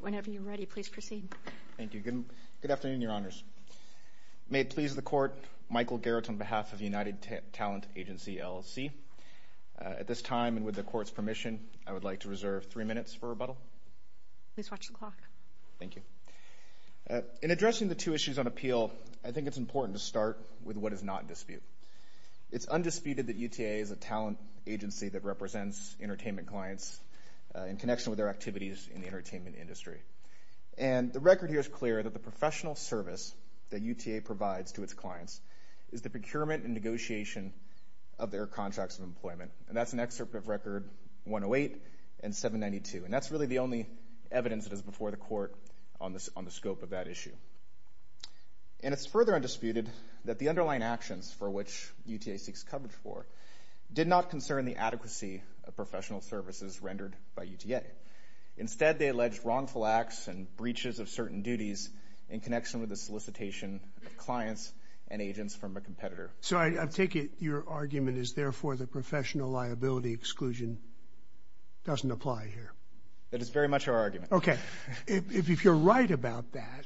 Whenever you're ready, please proceed. Thank you. Good afternoon, Your Honors. May it please the Court, Michael Garrett on behalf of United Talent Agency, LLC. At this time and with the Court's permission, I would like to reserve three minutes for rebuttal. Please watch the clock. Thank you. In addressing the two issues on appeal, I think it's important to start with what is not undisputed. It's undisputed that UTA is a talent agency that represents entertainment clients in connection with their activities in the entertainment industry. And the record here is clear that the professional service that UTA provides to its clients is the procurement and negotiation of their contracts of employment. And that's an excerpt of Record 108 and 792. And that's really the only evidence that is before the Court on the scope of that issue. And it's for which UTA seeks coverage for, did not concern the adequacy of professional services rendered by UTA. Instead, they alleged wrongful acts and breaches of certain duties in connection with the solicitation of clients and agents from a competitor. So I take it your argument is therefore the professional liability exclusion doesn't apply here. That is very much our argument. Okay. If you're right about that,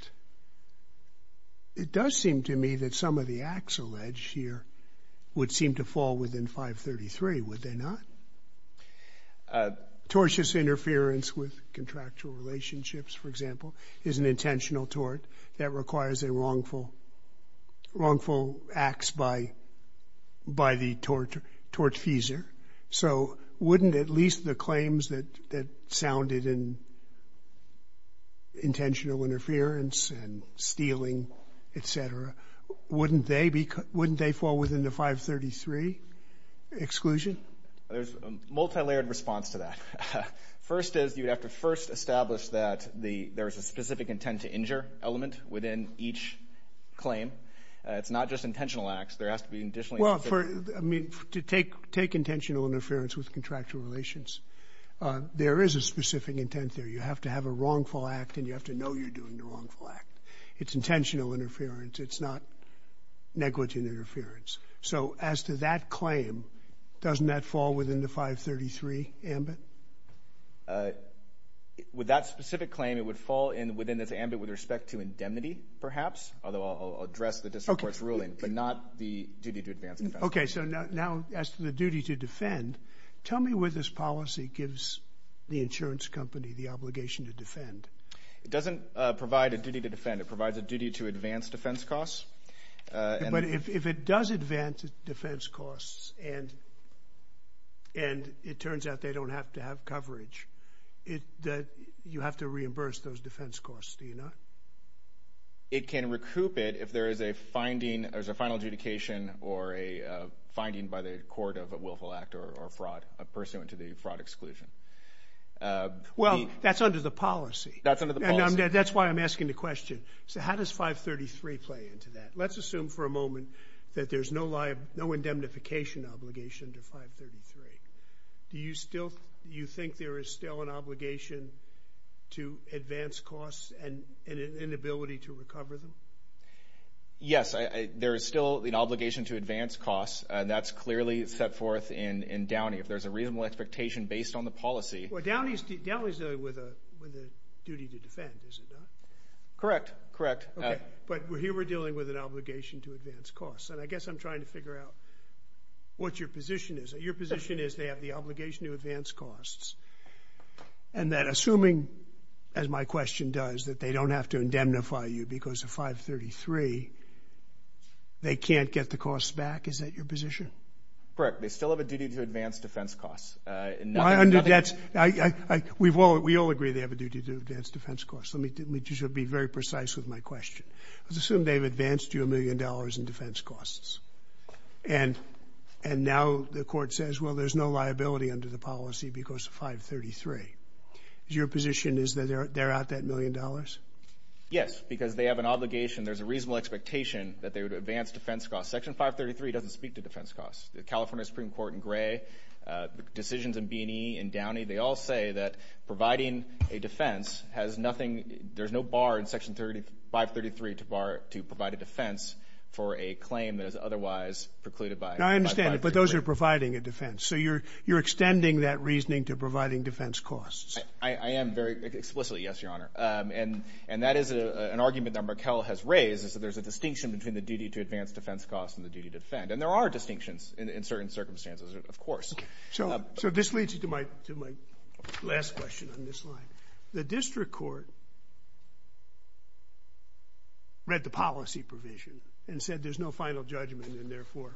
it does seem to me that some of the acts alleged here would seem to fall within 533, would they not? Tortious interference with contractual relationships, for example, is an intentional tort that requires a wrongful, wrongful acts by the tortfeasor. So wouldn't at least the interference and stealing, et cetera, wouldn't they fall within the 533 exclusion? There's a multilayered response to that. First is you'd have to first establish that there is a specific intent to injure element within each claim. It's not just intentional acts. There has to be additionally Well, I mean, to take intentional interference with contractual relations, there is a specific intent there. You have to have a wrongful act, and you have to know you're doing the wrongful act. It's intentional interference. It's not negligent interference. So as to that claim, doesn't that fall within the 533 ambit? With that specific claim, it would fall in within this ambit with respect to indemnity, perhaps, although I'll address the district court's ruling, but not the duty to advance Tell me where this policy gives the insurance company the obligation to defend. It doesn't provide a duty to defend. It provides a duty to advance defense costs. But if it does advance defense costs, and it turns out they don't have to have coverage, you have to reimburse those defense costs, do you not? It can pursuant to the fraud exclusion. Well, that's under the policy. That's under the policy. That's why I'm asking the question. So how does 533 play into that? Let's assume for a moment that there's no indemnification obligation to 533. Do you think there is still an obligation to advance costs and an inability to recover them? Yes, there is still an obligation to advance costs. That's clearly set forth in Downey. If there's a reasonable expectation based on the policy... Well, Downey's dealing with a duty to defend, is it not? Correct. Correct. But here we're dealing with an obligation to advance costs. And I guess I'm trying to figure out what your position is. Your position is they have the obligation to advance costs. And that assuming, as my question does, that they don't have to indemnify you because of 533, they can't get the costs back? Is that your position? Correct. They still have a duty to advance defense costs. Why under that? We all agree they have a duty to advance defense costs. Let me just be very precise with my question. Let's assume they've advanced you a million dollars in defense costs. And now the court says, well, there's no liability under the policy because of 533. Is your position is that they're out that million dollars? Yes, because they have an obligation. There's a reasonable expectation that they would advance defense costs. Section 533 doesn't speak to defense costs. The California Supreme Court in Gray, decisions in B&E and Downey, they all say that providing a defense has nothing... There's no bar in Section 533 to provide a defense for a claim that is otherwise precluded by... No, I understand it. But those are providing a defense. So you're extending that reasoning to providing defense costs. I am very... Explicitly, yes, Your Honor. And that is an argument that Raquel has raised, is that there's a distinction between the duty to advance defense costs and the duty to defend. And there are distinctions in certain circumstances, of course. So this leads you to my last question on this line. The district court read the policy provision and said there's no final judgment and therefore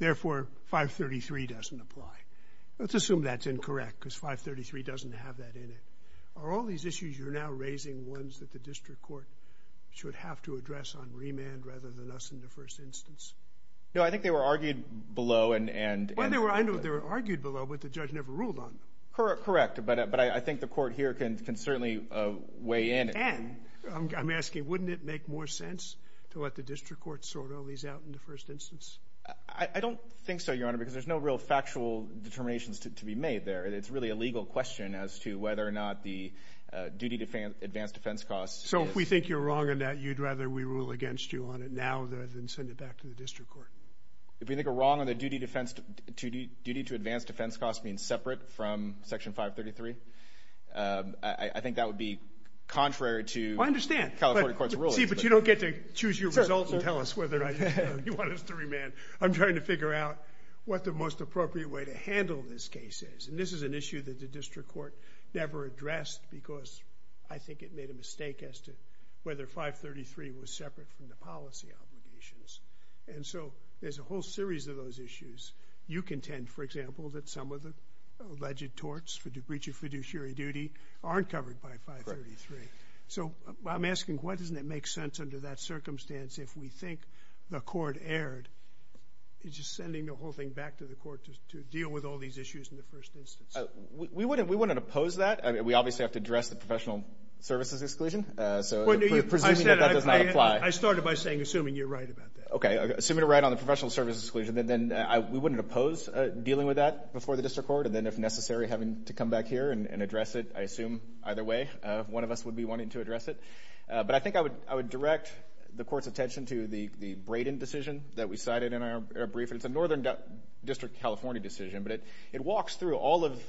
533 doesn't apply. Let's assume that's incorrect because 533 doesn't have that in it. Are all these issues you're now raising ones that the district court should have to address on remand rather than us in the first instance? No, I think they were argued below and... Well, I know they were argued below, but the judge never ruled on them. Correct, but I think the court here can certainly weigh in. Can? I'm asking, wouldn't it make more sense to let the district court sort all these out in the first instance? I don't think so, Your Honor, because there's no real factual determinations to be made there. It's really a legal question as to whether or not the duty to advance defense costs... So if we think you're wrong on that, you'd rather we rule against you on it now than send it back to the district court? If we think you're wrong on the duty to advance defense costs being separate from Section 533, I think that would be contrary to California court's rulings. See, but you don't get to choose your result and tell us whether or not you want us to remand. I'm trying to figure out what the most appropriate way to handle this case is. And this is an issue that the district court never addressed because I think it made a mistake as to whether 533 was separate from the policy obligations. And so there's a whole series of those issues. You contend, for example, that some of the alleged torts for breach of fiduciary duty aren't covered by 533. So I'm asking, why doesn't it make sense under that circumstance if we think the court erred? It's just sending the whole thing back to the court to deal with all these issues in the first instance. We wouldn't oppose that. I mean, we obviously have to address the professional services exclusion, so presuming that that does not apply. I started by saying, assuming you're right about that. Okay, assuming you're right on the professional services exclusion, then we wouldn't oppose dealing with that before the district court. And then if necessary, having to come back here and address it. I assume either way one of us would be wanting to address it. But I think I would direct the court's attention to the Braden decision that we cited in our brief. It's a northern district California decision, but it walks through all of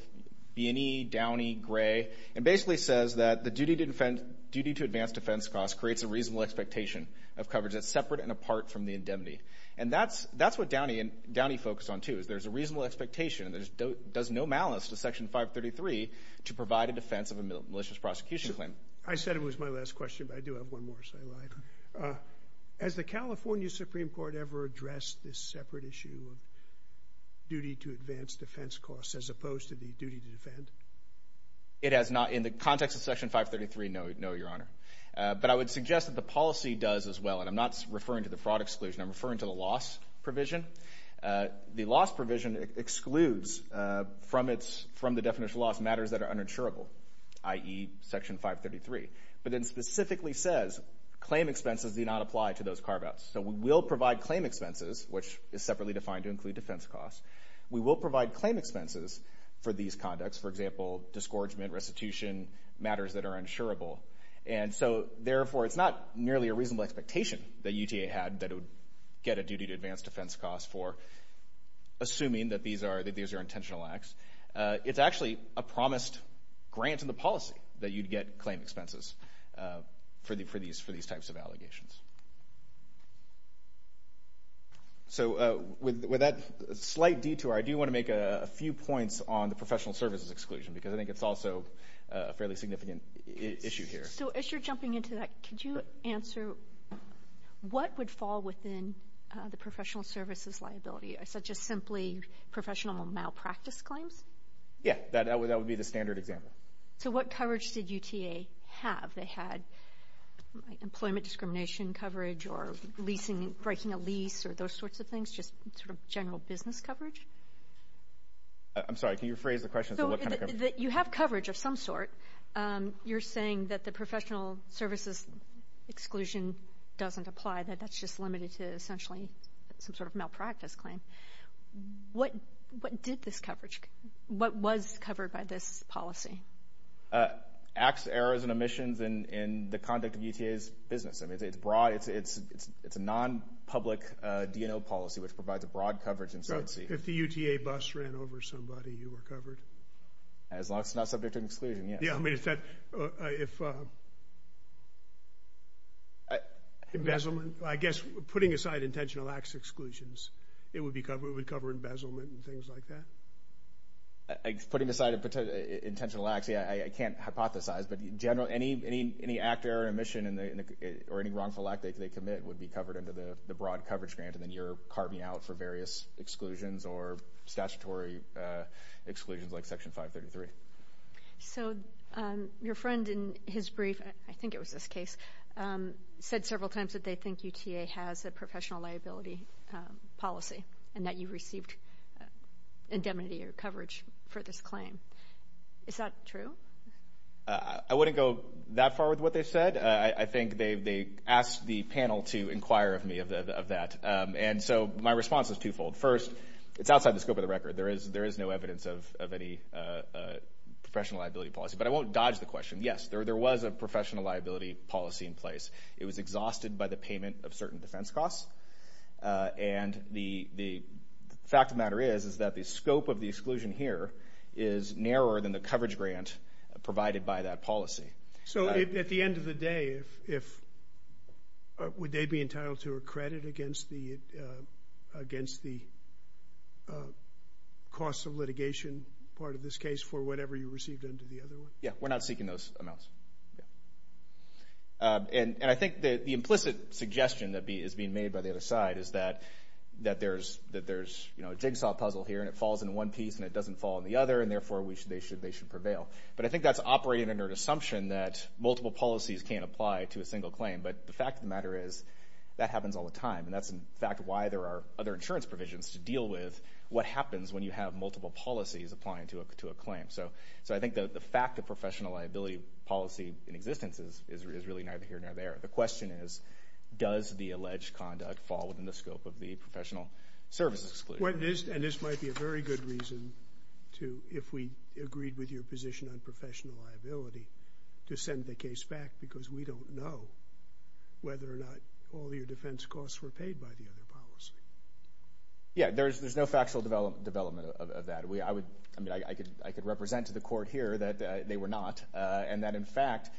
B&E, Downey, Gray, and basically says that the duty to advance defense costs creates a reasonable expectation of coverage that's separate and apart from the indemnity. And that's what Downey focused on, too, is there's a reasonable expectation. It does no malice to Section 533 to provide a defense of a malicious prosecution claim. I said it was my last question, but I do have one more, so I lied. Has the California Supreme Court ever addressed this separate issue of duty to advance defense costs as opposed to the duty to defend? It has not. In the context of Section 533, no, Your Honor. But I would suggest that the policy does as well, and I'm not referring to the fraud exclusion. I'm referring to the loss provision. The loss provision excludes from the definition of loss matters that are uninsurable, i.e. Section 533. But it specifically says claim expenses do not apply to those carve-outs. So we will provide claim expenses, which is separately defined to include defense costs. We will provide claim expenses for these conducts, for example, disgorgement, restitution, matters that are uninsurable. And so, therefore, it's not nearly a reasonable expectation that UTA had that it would get a duty to advance defense costs for assuming that these are intentional acts. It's actually a promised grant in the policy that you'd get claim expenses for these types of allegations. So with that slight detour, I do want to make a few points on the professional services exclusion because I think it's also a fairly significant issue here. So as you're jumping into that, could you answer what would fall within the professional services liability, such as simply professional malpractice claims? Yeah, that would be the standard example. So what coverage did UTA have? They had employment discrimination coverage or leasing, breaking a lease or those sorts of things, just sort of general business coverage? I'm sorry, can you rephrase the question? So you have coverage of some sort. You're saying that the professional services exclusion doesn't apply, that that's just limited to essentially some sort of malpractice claim. What did this coverage, what was covered by this policy? Acts, errors, and omissions in the conduct of UTA's business. I mean, it's broad. It's a non-public D&O policy, which provides a broad coverage. So if the UTA bus ran over somebody, you were covered? As long as it's not subject to an exclusion, yes. Yeah, I mean, is that embezzlement? I guess putting aside intentional acts exclusions, it would cover embezzlement and things like that? Putting aside intentional acts, yeah, I can't hypothesize. But in general, any act, error, or omission or any wrongful act they commit would be covered under the broad coverage grant, and then you're carving out for various exclusions or statutory exclusions like Section 533. So your friend in his brief, I think it was this case, said several times that they think UTA has a professional liability policy and that you received indemnity or coverage for this claim. Is that true? I wouldn't go that far with what they said. I think they asked the panel to inquire of me of that, and so my response is twofold. First, it's outside the scope of the record. There is no evidence of any professional liability policy. But I won't dodge the question. Yes, there was a professional liability policy in place. It was exhausted by the payment of certain defense costs, and the fact of the matter is that the scope of the exclusion here is narrower than the coverage grant provided by that policy. So at the end of the day, would they be entitled to a credit against the cost of litigation part of this case for whatever you received under the other one? Yeah, we're not seeking those amounts. And I think the implicit suggestion that is being made by the other side is that there's a jigsaw puzzle here, and it falls in one piece and it doesn't fall in the other, and therefore they should prevail. But I think that's operating under an assumption that multiple policies can't apply to a single claim. But the fact of the matter is that happens all the time, and that's, in fact, why there are other insurance provisions to deal with what happens when you have multiple policies applying to a claim. So I think the fact of professional liability policy in existence is really neither here nor there. The question is, does the alleged conduct fall within the scope of the professional service exclusion? And this might be a very good reason to, if we agreed with your position on professional liability, to send the case back because we don't know whether or not all your defense costs were paid by the other policy. Yeah, there's no factual development of that. I mean, I could represent to the court here that they were not, and that, in fact,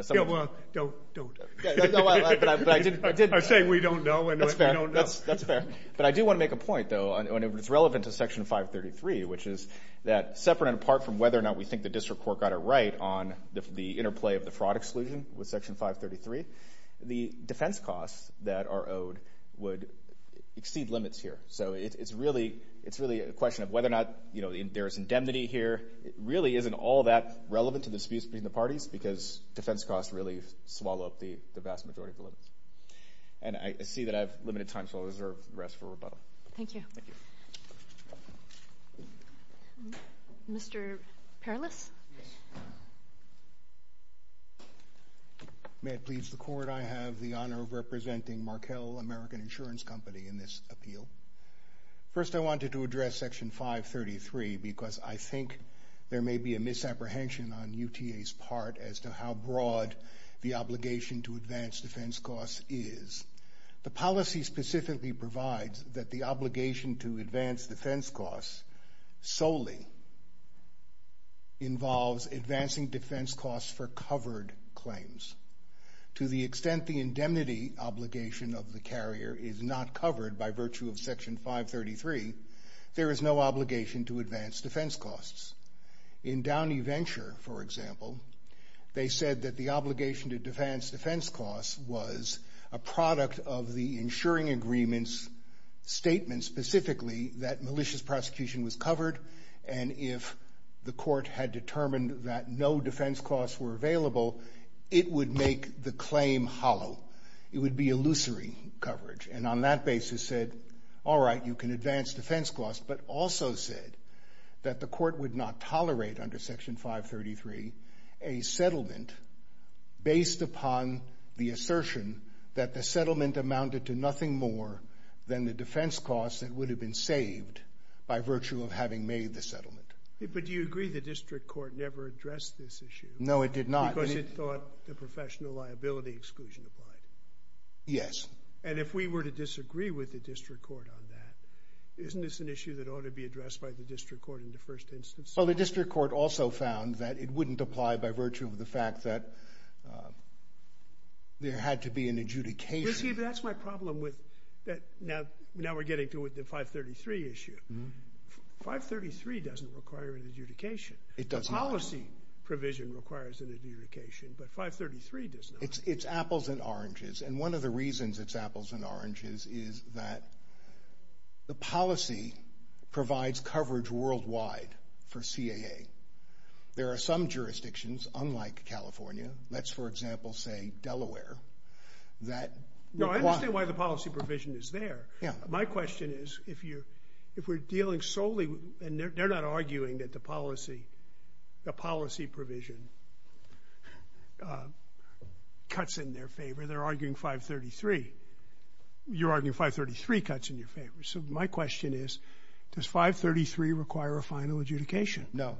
some of the... Yeah, well, don't. No, but I did... I say we don't know, and we don't know. That's fair. But I do want to make a point, though, and it's relevant to Section 533, which is that separate and apart from whether or not we think the district court got it right on the interplay of the fraud exclusion with Section 533, the defense costs that are owed would exceed limits here. So it's really a question of whether or not there's indemnity here. It really isn't all that relevant to the disputes between the parties because defense costs really swallow up the vast majority of the limits. And I see that I have limited time, so I'll reserve the rest for rebuttal. Thank you. Mr. Perlis. May it please the Court, I have the honor of representing Markell American Insurance Company in this appeal. First, I wanted to address Section 533 because I think there may be a misapprehension on UTA's part as to how broad the obligation to advance defense costs is. The policy specifically provides that the obligation to advance defense costs solely involves advancing defense costs for covered claims. To the extent the indemnity obligation of the carrier is not covered by virtue of Section 533, there is no obligation to advance defense costs. In Downey Venture, for example, they said that the obligation to advance defense costs was a product of the insuring agreement's statement specifically that malicious prosecution was covered, and if the court had determined that no defense costs were available, it would make the claim hollow. It would be illusory coverage. And on that basis said, all right, you can advance defense costs, but also said that the court would not tolerate under Section 533 a settlement based upon the assertion that the settlement amounted to nothing more than the defense costs that would have been saved by virtue of having made the settlement. But do you agree the district court never addressed this issue? No, it did not. Because it thought the professional liability exclusion applied. Yes. And if we were to disagree with the district court on that, isn't this an issue that ought to be addressed by the district court in the first instance? Well, the district court also found that it wouldn't apply by virtue of the fact that there had to be an adjudication. You see, that's my problem with that. Now we're getting to the 533 issue. 533 doesn't require an adjudication. It does not. The policy provision requires an adjudication, but 533 does not. It's apples and oranges. And one of the reasons it's apples and oranges is that the policy provides coverage worldwide for CAA. There are some jurisdictions, unlike California, let's, for example, say Delaware, that require. No, I understand why the policy provision is there. My question is, if we're dealing solely, and they're not arguing that the policy, the policy provision cuts in their favor. They're arguing 533. You're arguing 533 cuts in your favor. So my question is, does 533 require a final adjudication? No.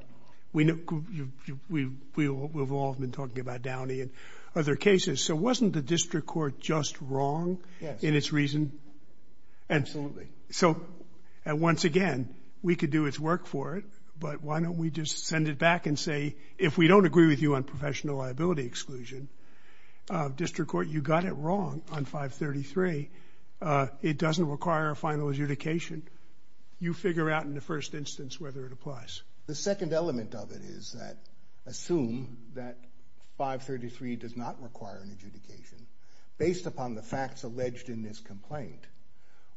We've all been talking about Downey and other cases. So wasn't the district court just wrong in its reason? Absolutely. So once again, we could do its work for it, but why don't we just send it back and say, if we don't agree with you on professional liability exclusion, district court, you got it wrong on 533. It doesn't require a final adjudication. You figure out in the first instance whether it applies. The second element of it is that, assume that 533 does not require an adjudication. Based upon the facts alleged in this complaint,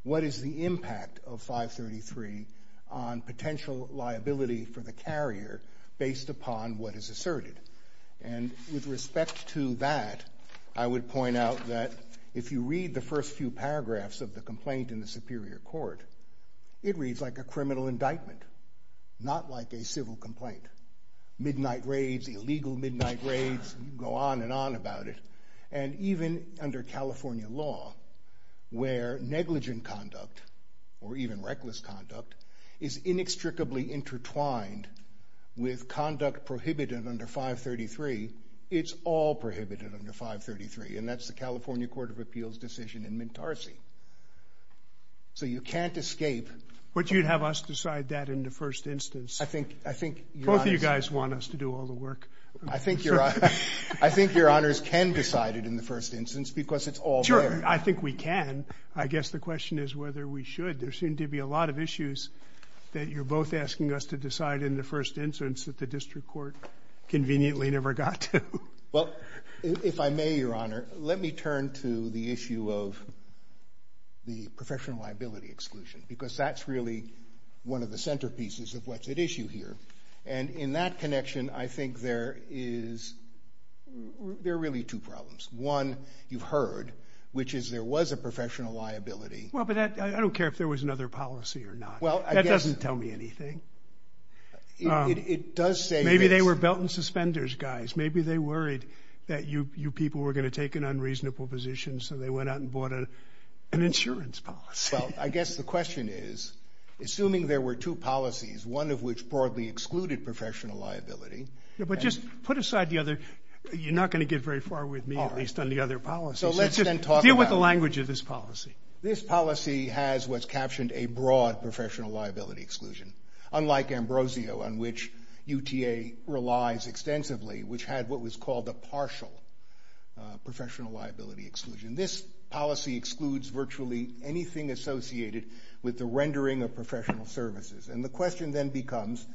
what is the impact of 533 on potential liability for the carrier based upon what is asserted? And with respect to that, I would point out that if you read the first few paragraphs of the complaint in the Superior Court, it reads like a criminal indictment, not like a civil complaint. Midnight raids, illegal midnight raids, you can go on and on about it. And even under California law, where negligent conduct or even reckless conduct is inextricably intertwined with conduct prohibited under 533, it's all prohibited under 533, and that's the California Court of Appeals decision in Mintarsi. So you can't escape. But you'd have us decide that in the first instance. I think you're honest. Both of you guys want us to do all the work. I think your honors can decide it in the first instance because it's all there. Sure, I think we can. I guess the question is whether we should. There seem to be a lot of issues that you're both asking us to decide in the first instance that the district court conveniently never got to. Well, if I may, Your Honor, let me turn to the issue of the professional liability exclusion because that's really one of the centerpieces of what's at issue here. And in that connection, I think there is really two problems. One, you've heard, which is there was a professional liability. Well, but I don't care if there was another policy or not. That doesn't tell me anything. It does say this. Maybe they were belt and suspenders, guys. Maybe they worried that you people were going to take an unreasonable position, so they went out and bought an insurance policy. Well, I guess the question is, assuming there were two policies, one of which broadly excluded professional liability. But just put aside the other. You're not going to get very far with me, at least on the other policies. Deal with the language of this policy. This policy has what's captioned a broad professional liability exclusion, unlike Ambrosio, on which UTA relies extensively, which had what was called a partial professional liability exclusion. This policy excludes virtually anything associated with the rendering of professional services. And the question then becomes,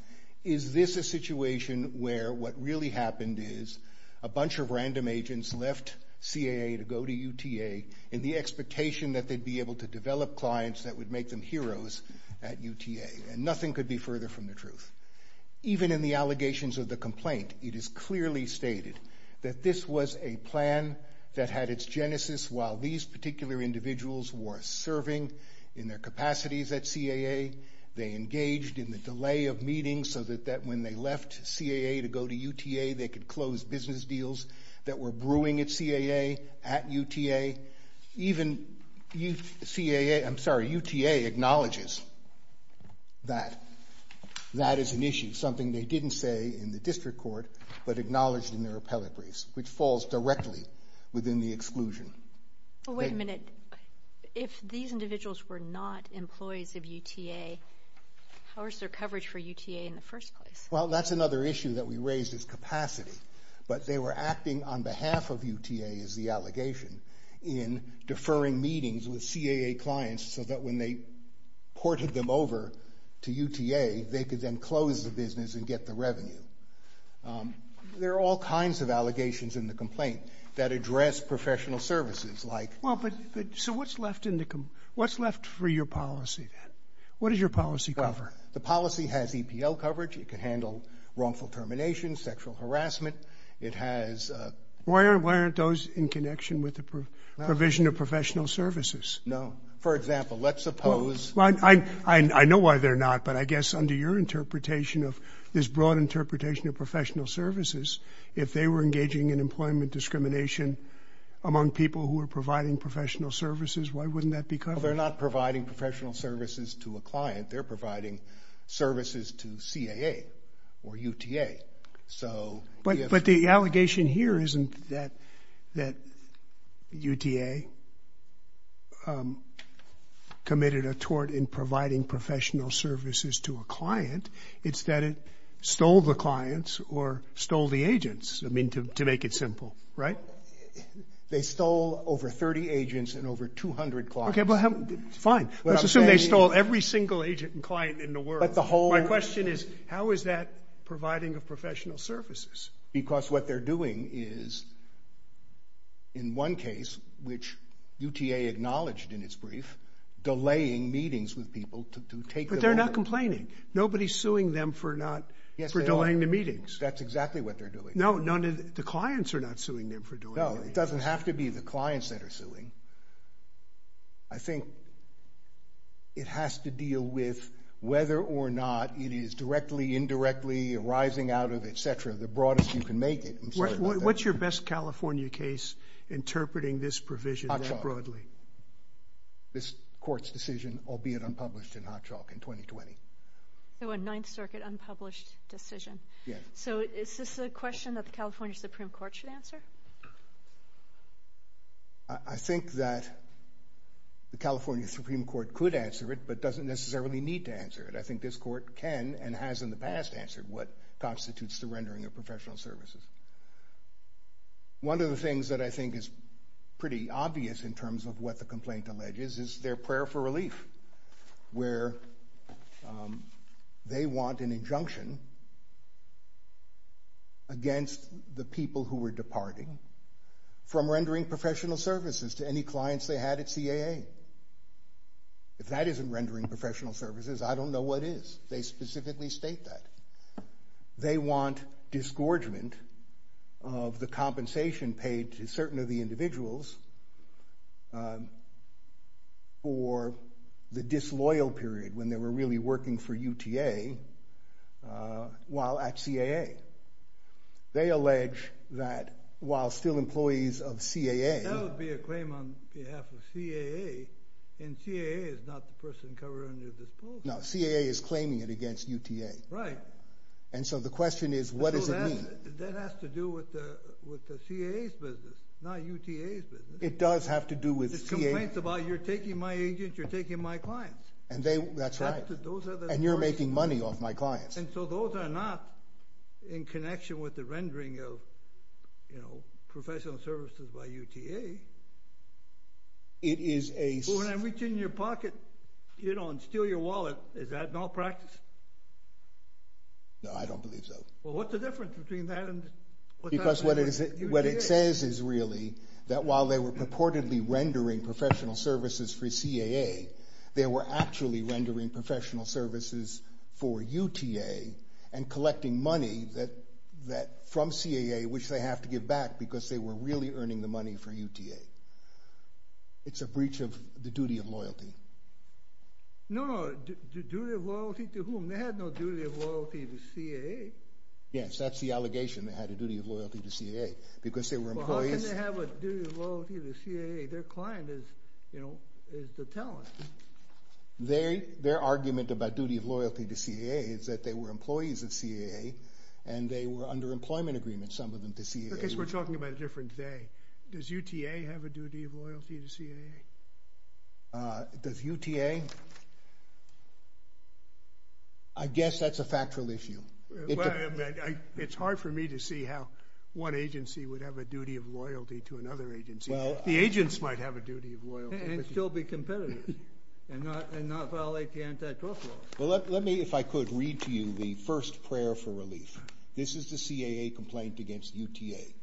is this a situation where what really happened is a bunch of random agents left CAA to go to UTA in the expectation that they'd be able to develop clients that would make them heroes at UTA. And nothing could be further from the truth. Even in the allegations of the complaint, it is clearly stated that this was a plan that had its genesis while these particular individuals were serving in their capacities at CAA. They engaged in the delay of meetings so that when they left CAA to go to UTA, they could close business deals that were brewing at CAA at UTA. Even UTA acknowledges that. That is an issue, something they didn't say in the district court, but acknowledged in their appellatories, which falls directly within the exclusion. Wait a minute. If these individuals were not employees of UTA, how was their coverage for UTA in the first place? Well, that's another issue that we raised is capacity. But they were acting on behalf of UTA, is the allegation, in deferring meetings with CAA clients so that when they ported them over to UTA, they could then close the business and get the revenue. There are all kinds of allegations in the complaint that address professional services, like... Well, but so what's left for your policy, then? What does your policy cover? The policy has EPL coverage. It can handle wrongful termination, sexual harassment. It has... Why aren't those in connection with the provision of professional services? No. For example, let's suppose... I know why they're not, but I guess under your interpretation of... this broad interpretation of professional services, if they were engaging in employment discrimination among people who were providing professional services, why wouldn't that be covered? Well, they're not providing professional services to a client. They're providing services to CAA or UTA. But the allegation here isn't that UTA committed a tort in providing professional services to a client. It's that it stole the clients or stole the agents, I mean, to make it simple, right? They stole over 30 agents and over 200 clients. Okay, fine. Let's assume they stole every single agent and client in the world. My question is, how is that providing of professional services? Because what they're doing is, in one case, which UTA acknowledged in its brief, delaying meetings with people to take them over. But they're not complaining. Nobody's suing them for delaying the meetings. That's exactly what they're doing. No, the clients are not suing them for delaying the meetings. No, it doesn't have to be the clients that are suing. I think it has to deal with whether or not it is directly, indirectly arising out of, et cetera, the broadest you can make it. What's your best California case interpreting this provision that broadly? This court's decision, albeit unpublished in Hot Chalk in 2020. So a Ninth Circuit unpublished decision. Yes. So is this a question that the California Supreme Court should answer? I think that the California Supreme Court could answer it, but doesn't necessarily need to answer it. I think this court can and has in the past answered what constitutes the rendering of professional services. One of the things that I think is pretty obvious in terms of what the complaint alleges is their prayer for relief, where they want an injunction against the people who were departing from rendering professional services to any clients they had at CAA. If that isn't rendering professional services, I don't know what is. They specifically state that. They want disgorgement of the compensation paid to certain of the individuals for the disloyal period when they were really working for UTA while at CAA. They allege that while still employees of CAA... That would be a claim on behalf of CAA, and CAA is not the person covering their disposal. No, CAA is claiming it against UTA. Right. And so the question is, what does it mean? That has to do with the CAA's business, not UTA's business. It does have to do with CAA. The complaint's about, you're taking my agents, you're taking my clients. That's right. And you're making money off my clients. And so those are not in connection with the rendering of professional services by UTA. When I reach in your pocket and steal your wallet, is that malpractice? No, I don't believe so. Well, what's the difference between that and... Because what it says is really that while they were purportedly rendering professional services for CAA, they were actually rendering professional services for UTA and collecting money from CAA, which they have to give back because they were really earning the money for UTA. It's a breach of the duty of loyalty. No, the duty of loyalty to whom? They had no duty of loyalty to CAA. Yes, that's the allegation. They had a duty of loyalty to CAA because they were employees... Well, how can they have a duty of loyalty to CAA? Their client is, you know, is the talent. Their argument about duty of loyalty to CAA is that they were employees of CAA and they were under employment agreement, some of them, to CAA. I guess we're talking about a different day. Does UTA have a duty of loyalty to CAA? Does UTA... I guess that's a factual issue. It's hard for me to see how one agency would have a duty of loyalty to another agency. The agents might have a duty of loyalty. And still be competitive and not violate the anti-trust laws. Well, let me, if I could, read to you the first prayer for relief. This is the CAA complaint against UTA.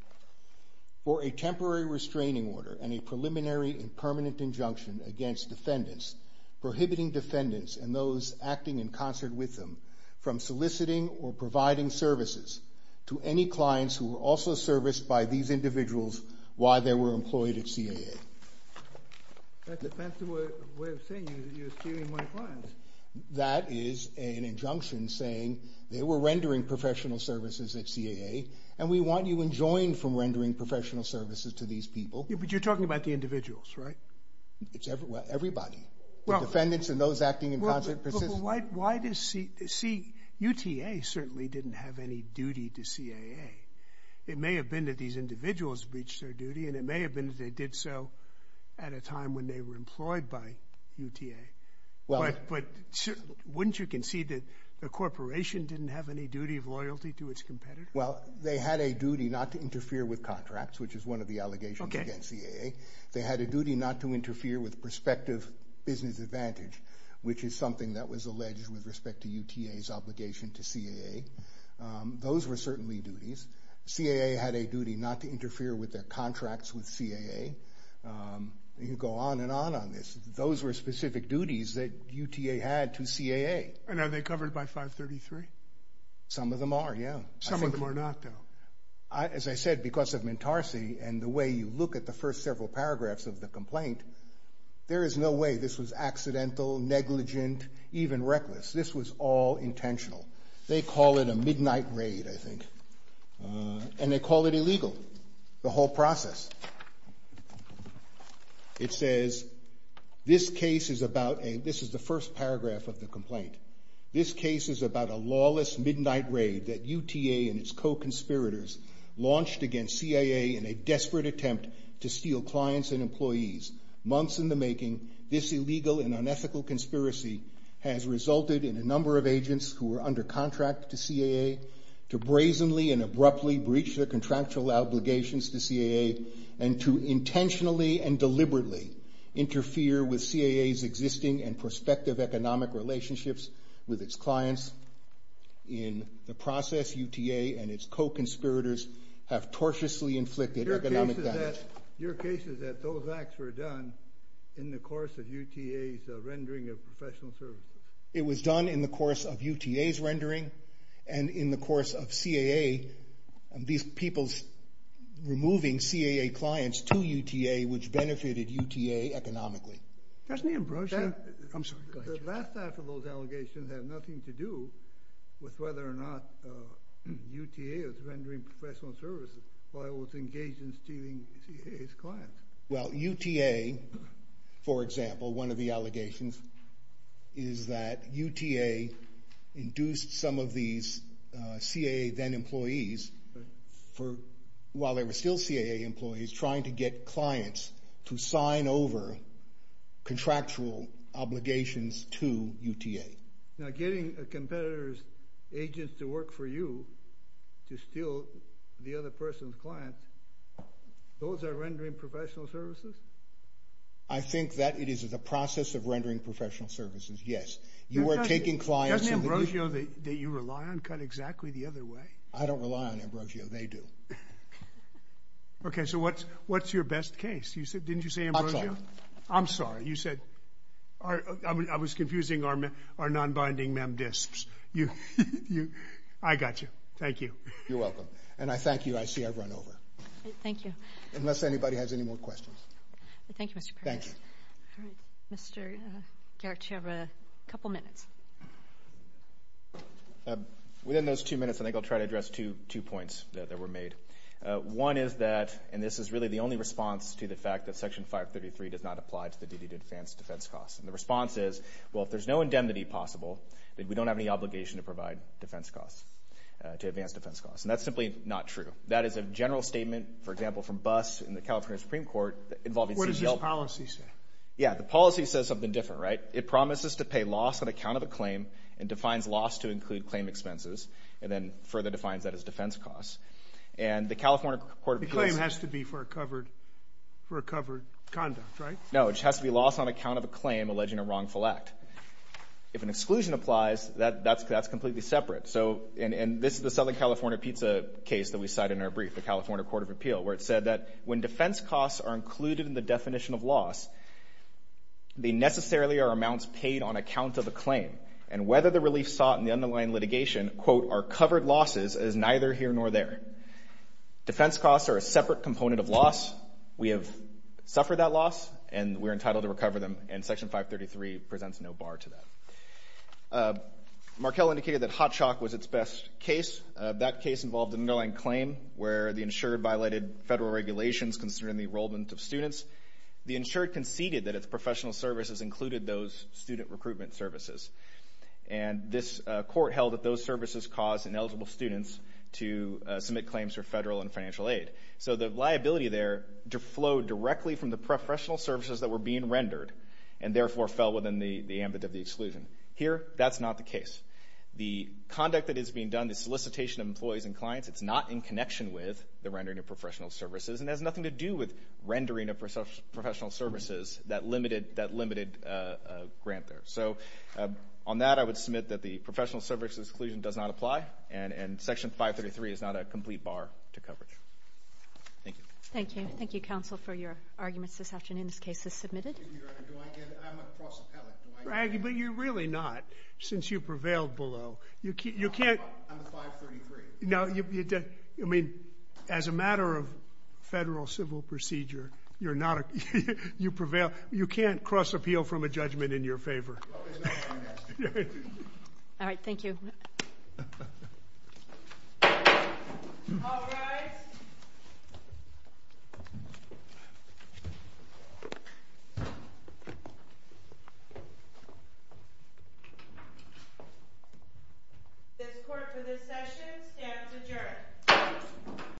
For a temporary restraining order and a preliminary and permanent injunction against defendants, prohibiting defendants and those acting in concert with them from soliciting or providing services to any clients who were also serviced by these individuals while they were employed at CAA. That's a fancy way of saying you're stealing my clients. That is an injunction saying they were rendering professional services at CAA and we want you enjoined from rendering professional services to these people. But you're talking about the individuals, right? It's everybody. The defendants and those acting in concert. But why does C... UTA certainly didn't have any duty to CAA. It may have been that these individuals breached their duty and it may have been that they did so at a time when they were employed by UTA. But wouldn't you concede that the corporation didn't have any duty of loyalty to its competitors? Well, they had a duty not to interfere with contracts, which is one of the allegations against CAA. They had a duty not to interfere with prospective business advantage, which is something that was alleged with respect to UTA's obligation to CAA. Those were certainly duties. CAA had a duty not to interfere with their contracts with CAA. You can go on and on on this. Those were specific duties that UTA had to CAA. And are they covered by 533? Some of them are, yeah. Some of them are not, though. As I said, because of Mentarsi and the way you look at the first several paragraphs of the complaint, there is no way this was accidental, negligent, even reckless. This was all intentional. They call it a midnight raid, I think. And they call it illegal, the whole process. It says, this case is about a... This is the first paragraph of the complaint. This case is about a lawless midnight raid that UTA and its co-conspirators launched against CAA in a desperate attempt to steal clients and employees. Months in the making, this illegal and unethical conspiracy has resulted in a number of agents who were under contract to CAA to brazenly and abruptly breach their contractual obligations to CAA and to intentionally and deliberately interfere with CAA's existing and prospective economic relationships with its clients. In the process, UTA and its co-conspirators have tortiously inflicted economic damage. Your case is that those acts were done in the course of UTA's rendering of professional services. It was done in the course of UTA's rendering and in the course of CAA, these people's removing CAA clients to UTA, which benefited UTA economically. Doesn't he embrace that? I'm sorry, go ahead. The last half of those allegations have nothing to do with whether or not UTA is rendering professional services while it was engaged in stealing CAA's clients. Well, UTA, for example, one of the allegations is that UTA induced some of these CAA then employees for, while they were still CAA employees, trying to get clients to sign over contractual obligations to UTA. Now, getting a competitor's agents to work for you to steal the other person's clients, those are rendering professional services? I think that it is the process of rendering professional services, yes. You are taking clients... Doesn't Ambrosio that you rely on cut exactly the other way? I don't rely on Ambrosio, they do. Okay, so what's your best case? Didn't you say Ambrosio? I'm sorry. I'm sorry. You said, I was confusing our non-binding mem disks. I got you. Thank you. You're welcome. And I thank you. I see I've run over. Thank you. Unless anybody has any more questions. Thank you, Mr. Perry. Thank you. All right. Mr. Garrett, you have a couple minutes. Within those two minutes, I think I'll try to address two points that were made. One is that, and this is really the only response to the fact that Section 533 does not apply to the duty to advance defense costs. And the response is, well, if there's no indemnity possible, then we don't have any obligation to provide defense costs, to advance defense costs. And that's simply not true. That is a general statement, for example, from BUS in the California Supreme Court involving... What does this policy say? Yeah, the policy says something different, right? It promises to pay loss on account of a claim and defines loss to include claim expenses and then further defines that as defense costs. And the California Court of Appeals... For a covered conduct, right? No, it just has to be loss on account of a claim alleging a wrongful act. If an exclusion applies, that's completely separate. And this is the Southern California pizza case that we cite in our brief, the California Court of Appeals, where it said that when defense costs are included in the definition of loss, they necessarily are amounts paid on account of a claim. And whether the relief sought in the underlying litigation, quote, are covered losses is neither here nor there. Defense costs are a separate component of loss. We have suffered that loss, and we're entitled to recover them, and Section 533 presents no bar to that. Markell indicated that Hotshock was its best case. That case involved an underlying claim where the insured violated federal regulations considering the enrollment of students. The insured conceded that its professional services included those student recruitment services. And this court held that those services caused ineligible students to submit claims for federal and financial aid. So the liability there flowed directly from the professional services that were being rendered, and therefore fell within the ambit of the exclusion. Here, that's not the case. The conduct that is being done, the solicitation of employees and clients, it's not in connection with the rendering of professional services, and has nothing to do with rendering of professional services, that limited grant there. So on that, I would submit that the professional services exclusion does not apply, and Section 533 is not a complete bar to coverage. Thank you. Thank you. Thank you, counsel, for your arguments this afternoon. This case is submitted. Excuse me, Your Honor. Do I get it? I'm a cross appellate. But you're really not, since you prevailed below. You can't. I'm a 533. No, you're dead. I mean, as a matter of federal civil procedure, you're not a, you prevail. You can't cross appeal from a judgment in your favor. Well, there's no harm in asking. All right. Thank you. All rise. This court for this session stands adjourned.